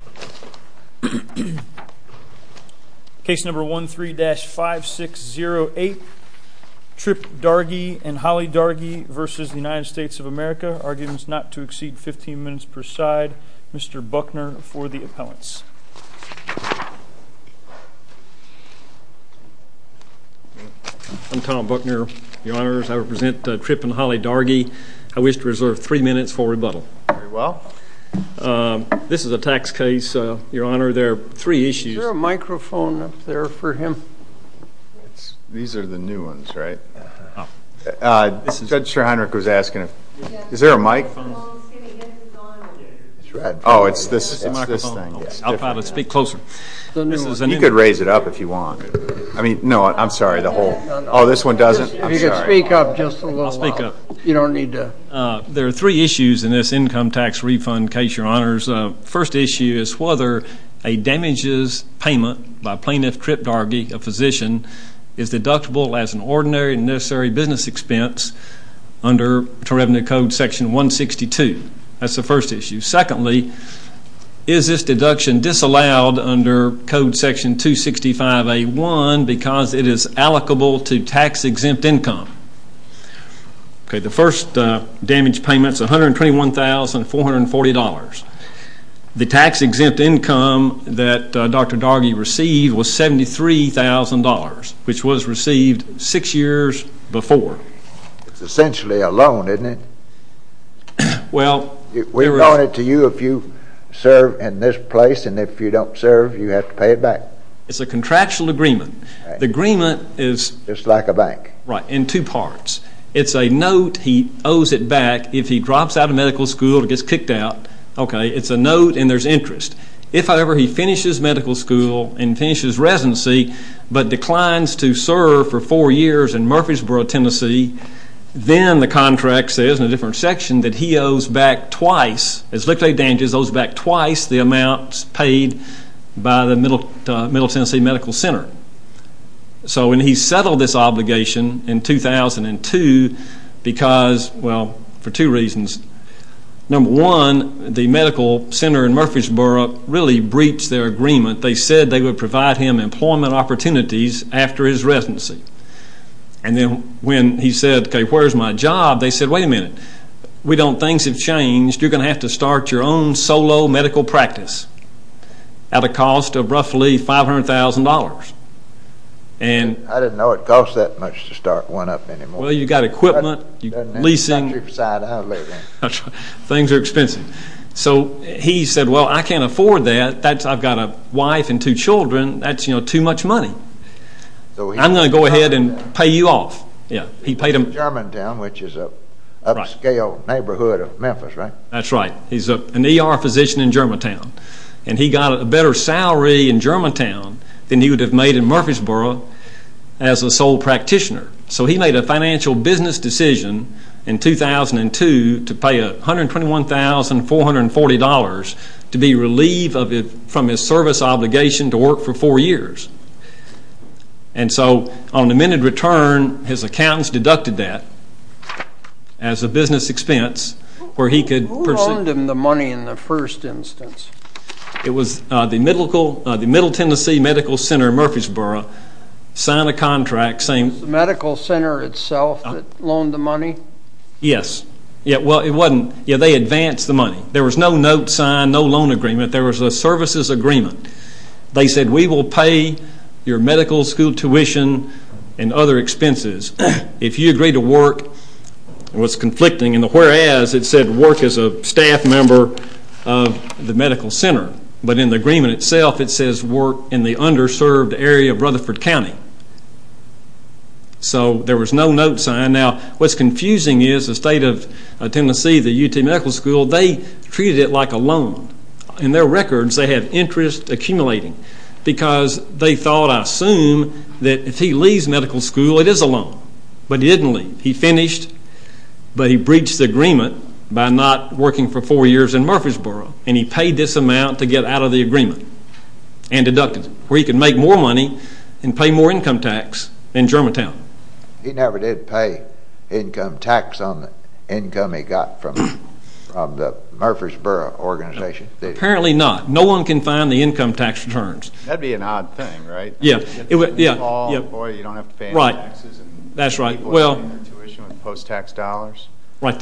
of America, arguments not to exceed 15 minutes per side. Mr. Buckner, for the appellants. I'm Tom Buckner, your honors. I represent Tripp and Holly Dargie. I wish to reserve three minutes for rebuttal. Very well. This is a tax code that is not in effect today, so your honor, there are three issues. Is there a microphone up there for him? These are the new ones, right? Judge Schreinrich was asking if... Is there a mic? Oh, it's this thing. I'll try to speak closer. You could raise it up if you want. No, I'm sorry, the whole... Oh, this one doesn't? I'm sorry. If you could speak up just a little while. You don't need to... There are three issues in this income tax refund case, your honors. First issue is whether a damages payment by plaintiff Tripp Dargie, a physician, is deductible as an ordinary and necessary business expense under revenue code section 162. That's the first issue. Secondly, is this deduction disallowed under code section 265A1 because it is allocable to tax-exempt income? Okay, the first damage payment is $121,440. The tax-exempt income that Dr. Dargie received was $73,000, which was received six years before. It's essentially a loan, isn't it? Well... We loan it to you if you serve in this place, and if you don't serve, you have to pay it back. It's a contractual agreement. The agreement is... It's like a bank. Right, in two parts. It's a note. He owes it back. If he drops out of medical school and gets kicked out, okay, it's a note and there's interest. If, however, he finishes medical school and finishes residency but declines to serve for four years in Murfreesboro, Tennessee, then the contract says in a different section that he owes back twice, as liquidated damages, owes back twice the amounts paid by the Middle Tennessee Medical Center. So when he settled this obligation in 2002 because, well, for two reasons. Number one, the medical center in Murfreesboro really breached their agreement. They said they would provide him employment opportunities after his retirement. We don't... Things have changed. You're going to have to start your own solo medical practice at a cost of roughly $500,000. I didn't know it cost that much to start one up anymore. Well, you've got equipment, leasing. Things are expensive. So he said, well, I can't afford that. I've got a wife and two children. That's too much money. I'm going to go ahead and pay you off. Germantown, which is an upscale neighborhood of Memphis, right? That's right. He's an ER physician in Germantown. And he got a better salary in Germantown than he would have made in Murfreesboro as a sole practitioner. So he made a financial business decision in 2002 to pay $121,440 to be relieved from his service obligation to work for four years. And so on amended return, his accountants deducted that as a business expense where he could... Who loaned him the money in the first instance? It was the Middle Tennessee Medical Center in Murfreesboro signed a contract saying... Was the medical center itself that loaned the money? Yes. Well, it wasn't. They advanced the money. There was no note signed, no loan agreement. There was a services agreement. They said, we will pay your medical school tuition and other expenses if you agree to work. It was conflicting in the whereas. It said work as a staff member of the medical center. But in the agreement itself, it says work in the underserved area of Rutherford County. So there was no note signed. Now, what's confusing is the state of Tennessee, the UT Medical School, they treated it like a loan. In their records, they had interest accumulating because they thought, I assume, that if he leaves medical school, it is a loan. But he didn't leave. He finished, but he breached the agreement by not working for four years in Murfreesboro. And he paid this amount to get out of the agreement and deducted it, where he could make more money and pay more income tax in Germantown. He never did pay income tax on the income he got from the Murfreesboro organization. Apparently not. No one can find the income tax returns. That would be an odd thing, right? Yeah. The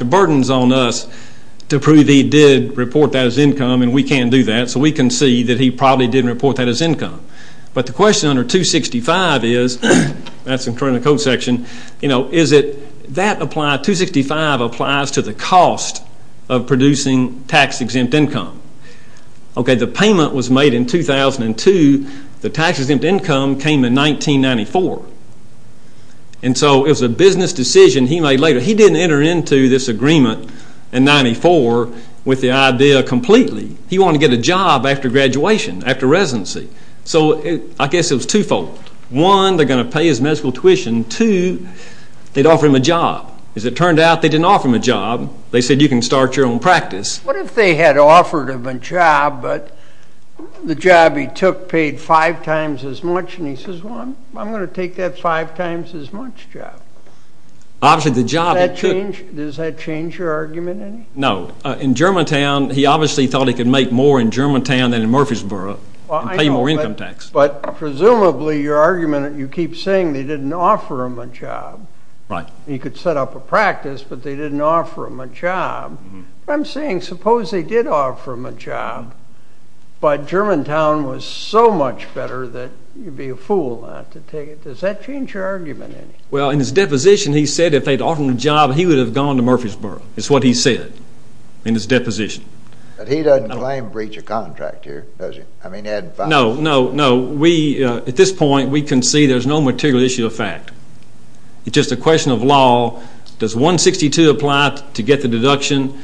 burden is on us to prove he did report that as income. And we can't do that. So we can see that he probably didn't report that as income. But the question under 265 is, that's in front of the code section, 265 applies to the cost of producing tax-exempt income. Okay, the payment was made in 2002. The tax-exempt income came in 1994. And so it was a business decision he made later. He didn't enter into this agreement in 94 with the idea completely. He wanted to get a job after graduation, after residency. So I guess it was twofold. One, they're going to pay his medical tuition. Two, they'd offer him a job. As it turned out, they didn't offer him a job. They said, you can start your own practice. What if they had offered him a job, but the job he took paid five times as much? And he says, well, I'm going to take that five times as much job. Does that change your argument? No. In Germantown, he obviously thought he could make more in Germantown than in Murfreesboro and pay more income tax. But presumably your argument, you keep saying they didn't offer him a job. Right. He could set up a practice, but they didn't offer him a job. I'm saying, suppose they did offer him a job, but Germantown was so much better that you'd be a fool not to take it. Does that change your argument? Well, in his deposition, he said if they'd offered him a job, he would have gone to Murfreesboro. It's what he said in his deposition. But he doesn't claim breach of contract here, does he? No, no, no. At this point, we can see there's no material issue of fact. It's just a question of law. Does 162 apply to get the deduction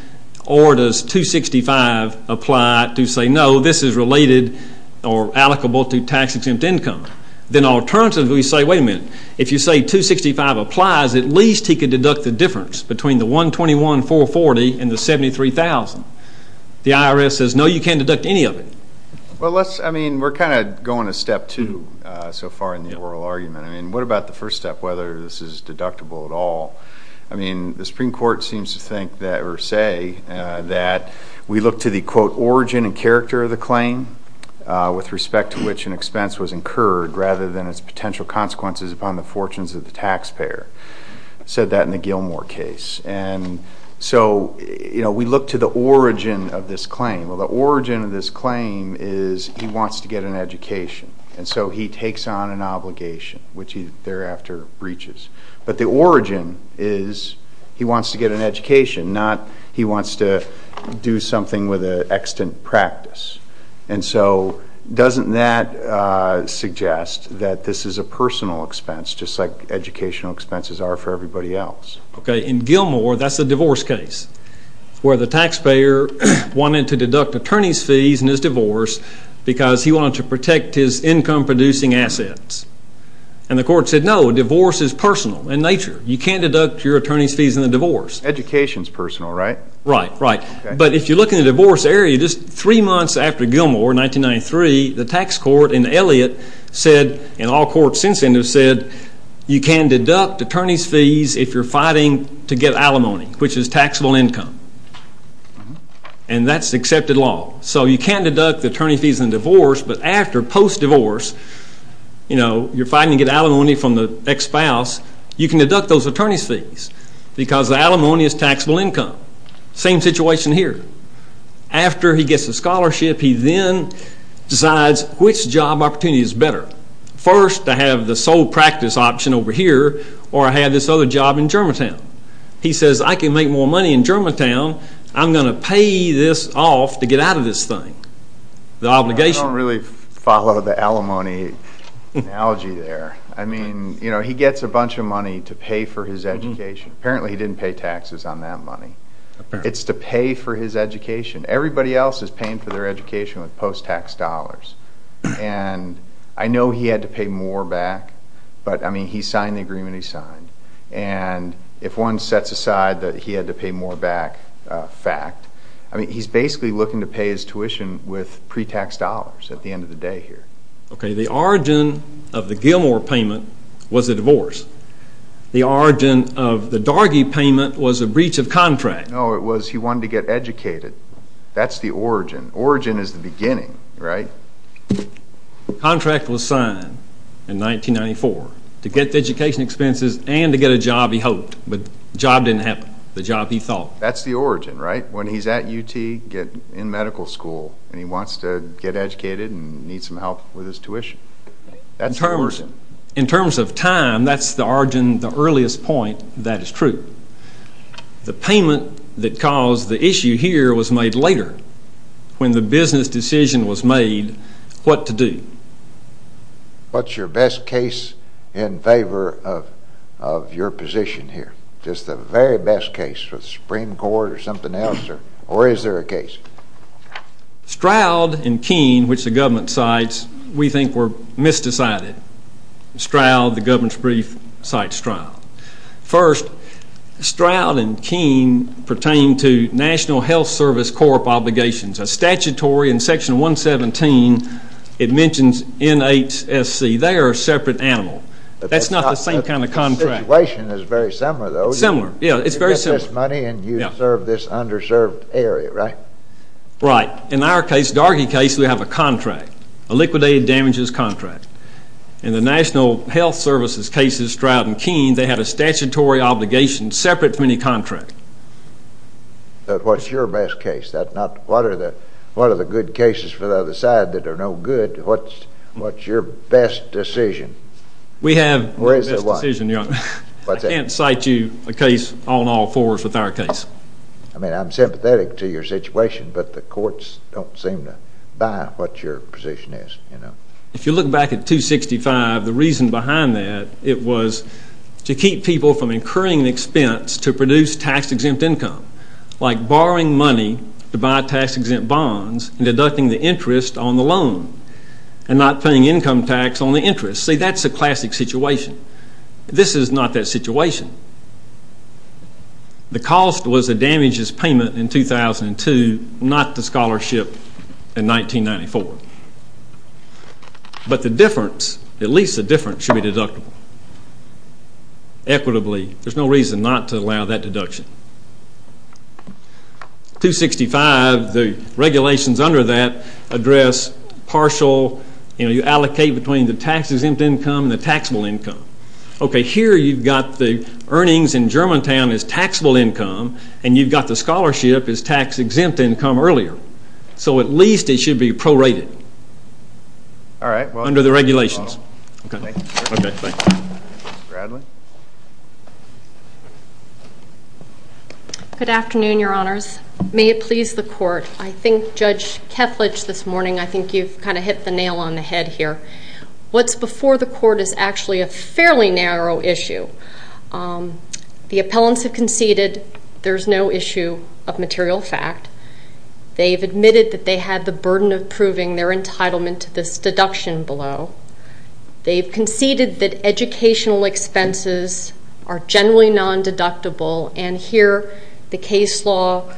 or does 265 apply to say, no, this is related or allocable to tax-exempt income? Then alternatively, we say, wait a minute. If you say 265 applies, at least he could deduct the difference between the 121,440 and the 73,000. The IRS says, no, you can't deduct any of it. Well, let's, I mean, we're kind of going to step two so far in the oral argument. I mean, what about the first step, whether this is deductible at all? I mean, the Supreme Court seems to think that or say that we look to the, quote, origin and character of the claim with respect to which an expense was incurred rather than its potential consequences upon the fortunes of the taxpayer. It said that in the Gilmore case. And so, you know, we look to the origin of this claim. Well, the origin of this claim is he wants to get an education, and so he takes on an obligation. Which he thereafter breaches. But the origin is he wants to get an education, not he wants to do something with an extant practice. And so doesn't that suggest that this is a personal expense, just like educational expenses are for everybody else? Okay, in Gilmore, that's a divorce case where the taxpayer wanted to deduct attorney's fees in his divorce because he wanted to protect his income-producing assets. And the court said, no, a divorce is personal in nature. You can't deduct your attorney's fees in a divorce. Education's personal, right? Right, right. But if you look in the divorce area, just three months after Gilmore, 1993, the tax court in Elliott said, and all courts since then have said, you can deduct attorney's fees if you're fighting to get alimony, which is taxable income. And that's accepted law. So you can deduct attorney's fees in a divorce, but after, post-divorce, you're fighting to get alimony from the ex-spouse, you can deduct those attorney's fees because the alimony is taxable income. Same situation here. After he gets the scholarship, he then decides which job opportunity is better. First, to have the sole practice option over here, or I have this other job in Germantown. He says, I can make more money in Germantown. I'm going to pay this off to get out of this thing. The obligation. I don't really follow the alimony analogy there. I mean, you know, he gets a bunch of money to pay for his education. Apparently he didn't pay taxes on that money. It's to pay for his education. Everybody else is paying for their education with post-tax dollars. And I know he had to pay more back, but, I mean, he signed the agreement he signed. And if one sets aside that he had to pay more back, fact. I mean, he's basically looking to pay his tuition with pre-tax dollars at the end of the day here. Okay, the origin of the Gilmore payment was a divorce. The origin of the Dargy payment was a breach of contract. No, it was he wanted to get educated. That's the origin. Origin is the beginning, right? The contract was signed in 1994 to get the education expenses and to get a job he hoped. But the job didn't happen. The job he thought. That's the origin, right? When he's at UT, in medical school, and he wants to get educated and needs some help with his tuition. In terms of time, that's the origin, the earliest point that is true. The payment that caused the issue here was made later. When the business decision was made, what to do? What's your best case in favor of your position here? Just the very best case with the Supreme Court or something else, or is there a case? Stroud and Keene, which the government cites, we think were misdecided. Stroud, the government's brief, cites Stroud. First, Stroud and Keene pertain to National Health Service Corp. obligations. A statutory in Section 117, it mentions NHSC. They are a separate animal. That's not the same kind of contract. The situation is very similar, though. Similar. Yeah, it's very similar. You get this money and you serve this underserved area, right? Right. In our case, Dargie case, we have a contract, a liquidated damages contract. In the National Health Service's cases, Stroud and Keene, they have a statutory obligation separate from any contract. But what's your best case? What are the good cases for the other side that are no good? What's your best decision? We have no best decision. I can't cite you a case on all fours with our case. I mean, I'm sympathetic to your situation, but the courts don't seem to buy what your position is. If you look back at 265, the reason behind that, it was to keep people from incurring an expense to produce tax-exempt income, like borrowing money to buy tax-exempt bonds and deducting the interest on the loan and not paying income tax on the interest. See, that's a classic situation. This is not that situation. The cost was the damages payment in 2002, not the scholarship in 1994. But the difference, at least the difference, should be deductible. Equitably, there's no reason not to allow that deduction. 265, the regulations under that address partial, you know, you allocate between the tax-exempt income and the taxable income. Okay, here you've got the earnings in Germantown as taxable income, and you've got the scholarship as tax-exempt income earlier. So at least it should be prorated under the regulations. Okay, thank you. Ms. Bradley? Good afternoon, Your Honors. May it please the Court. I think Judge Kethledge this morning, I think you've kind of hit the nail on the head here. What's before the Court is actually a fairly narrow issue. The appellants have conceded there's no issue of material fact. They've admitted that they had the burden of proving their entitlement to this deduction below. They've conceded that educational expenses are generally non-deductible, and here the case law,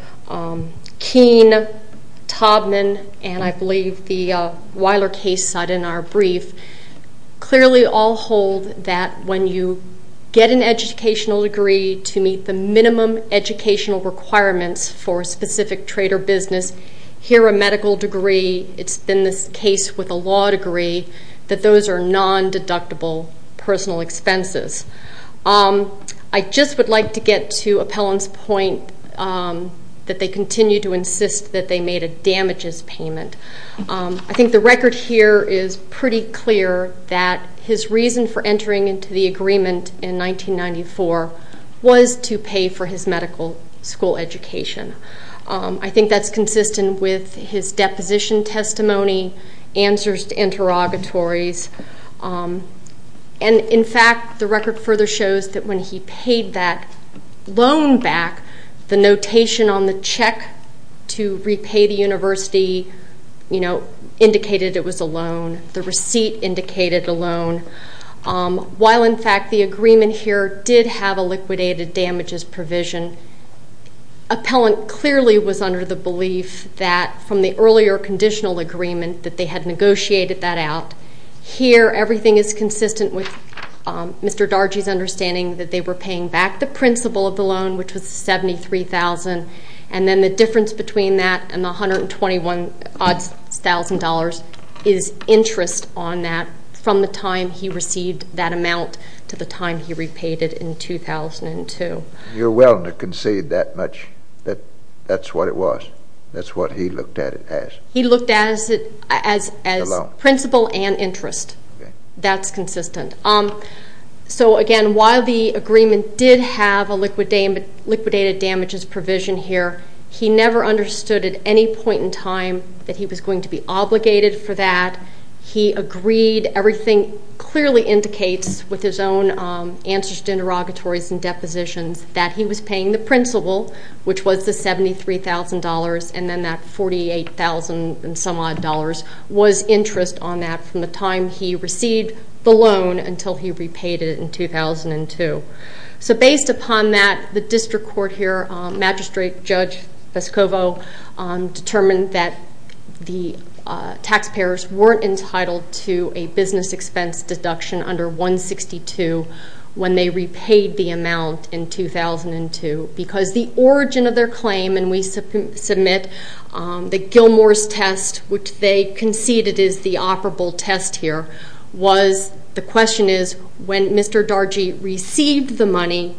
Keene, Taubman, and I believe the Weiler case cited in our brief, clearly all hold that when you get an educational degree to meet the minimum educational requirements for a specific trade or business, here a medical degree, it's been this case with a law degree, that those are non-deductible personal expenses. I just would like to get to appellants' point that they continue to insist that they made a damages payment. I think the record here is pretty clear that his reason for entering into the agreement in 1994 was to pay for his medical school education. I think that's consistent with his deposition testimony, answers to interrogatories, and, in fact, the record further shows that when he paid that loan back, the notation on the check to repay the university indicated it was a loan. The receipt indicated a loan. While, in fact, the agreement here did have a liquidated damages provision, appellant clearly was under the belief that from the earlier conditional agreement that they had negotiated that out. Here, everything is consistent with Mr. Dargy's understanding that they were paying back the principal of the loan, which was $73,000, and then the difference between that and the $121,000 is interest on that from the time he received that amount to the time he repaid it in 2002. So you're willing to concede that much, that that's what it was? That's what he looked at it as? He looked at it as principal and interest. That's consistent. So, again, while the agreement did have a liquidated damages provision here, he never understood at any point in time that he was going to be obligated for that. He agreed. Everything clearly indicates, with his own answers to interrogatories and depositions, that he was paying the principal, which was the $73,000, and then that $48,000-and-some-odd was interest on that from the time he received the loan until he repaid it in 2002. So based upon that, the district court here, Magistrate Judge Vescovo, determined that the taxpayers weren't entitled to a business expense deduction under 162 when they repaid the amount in 2002 because the origin of their claim, and we submit the Gilmour's test, which they conceded is the operable test here, the question is when Mr. Dargy received the money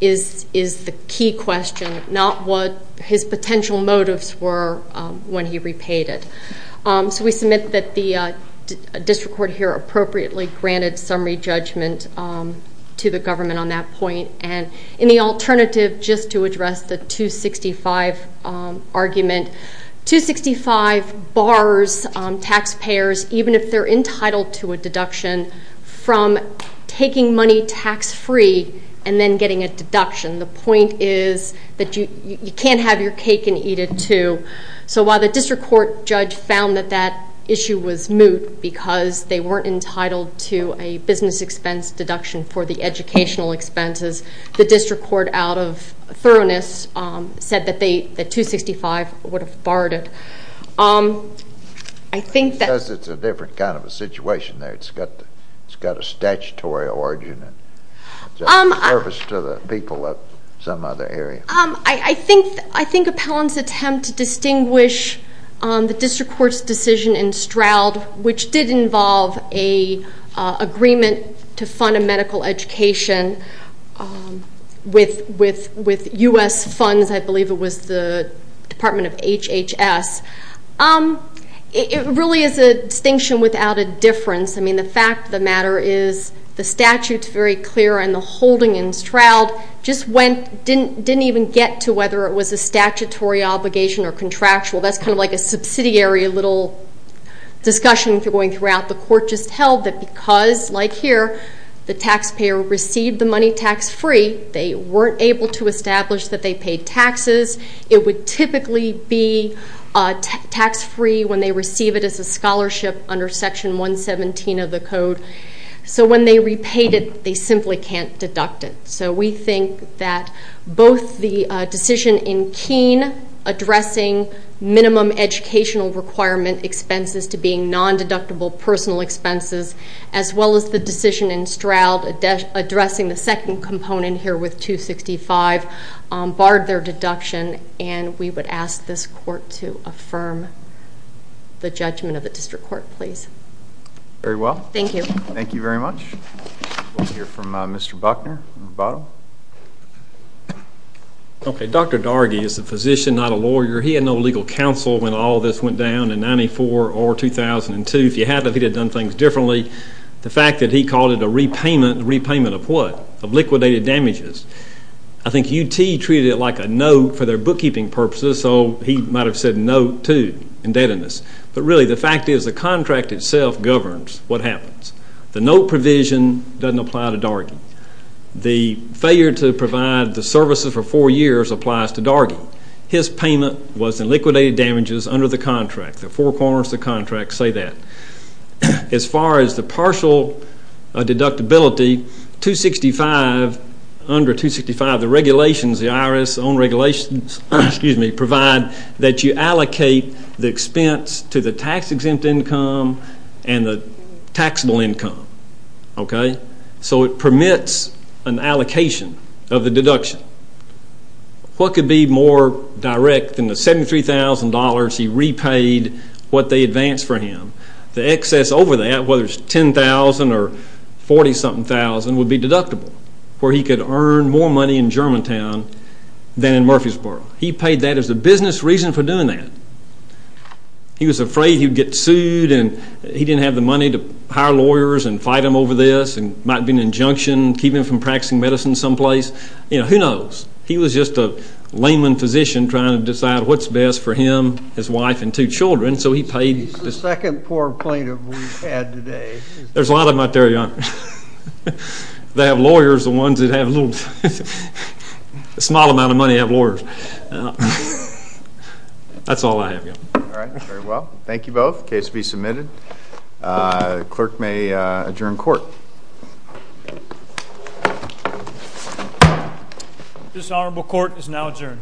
is the key question, not what his potential motives were when he repaid it. So we submit that the district court here appropriately granted summary judgment to the government on that point. And in the alternative, just to address the 265 argument, 265 bars taxpayers, even if they're entitled to a deduction, from taking money tax-free and then getting a deduction. The point is that you can't have your cake and eat it too. So while the district court judge found that that issue was moot because they weren't entitled to a business expense deduction for the educational expenses, the district court, out of thoroughness, said that 265 would have barred it. I think that... It says it's a different kind of a situation there. It's got a statutory origin. It's a service to the people of some other area. I think Appellant's attempt to distinguish the district court's decision in Stroud, which did involve an agreement to fund a medical education with U.S. funds. I believe it was the Department of HHS. It really is a distinction without a difference. I mean, the fact of the matter is the statute's very clear, and the holding in Stroud just didn't even get to whether it was a statutory obligation or contractual. That's kind of like a subsidiary little discussion going throughout. The court just held that because, like here, the taxpayer received the money tax-free, they weren't able to establish that they paid taxes. It would typically be tax-free when they receive it as a scholarship under Section 117 of the Code. So when they repaid it, they simply can't deduct it. So we think that both the decision in Keene addressing minimum educational requirement expenses to being non-deductible personal expenses, as well as the decision in Stroud addressing the second component here with 265 barred their deduction, and we would ask this court to affirm the judgment of the district court, please. Very well. Thank you. Thank you very much. We'll hear from Mr. Buckner at the bottom. Okay. Dr. Dargy is a physician, not a lawyer. He had no legal counsel when all this went down in 94 or 2002. If he had, he'd have done things differently. The fact that he called it a repayment, a repayment of what? Of liquidated damages. I think UT treated it like a note for their bookkeeping purposes, so he might have said note too, indebtedness. But really the fact is the contract itself governs what happens. The note provision doesn't apply to Dargy. The failure to provide the services for four years applies to Dargy. His payment was in liquidated damages under the contract. The four corners of the contract say that. As far as the partial deductibility, 265, under 265 the regulations, the IRS own regulations, provide that you allocate the expense to the tax-exempt income and the taxable income. Okay? So it permits an allocation of the deduction. What could be more direct than the $73,000 he repaid, what they advanced for him? The excess over that, whether it's $10,000 or $40,000 would be deductible, where he could earn more money in Germantown than in Murfreesboro. He paid that as a business reason for doing that. He was afraid he would get sued and he didn't have the money to hire lawyers and fight him over this and might be an injunction, keep him from practicing medicine someplace. Who knows? He was just a layman physician trying to decide what's best for him, his wife, and two children, so he paid. He's the second poor plaintiff we've had today. There's a lot of them out there, Your Honor. They have lawyers, the ones that have little, a small amount of money have lawyers. That's all I have, Your Honor. All right, very well. Thank you both. Case to be submitted. Clerk may adjourn court. This honorable court is now adjourned.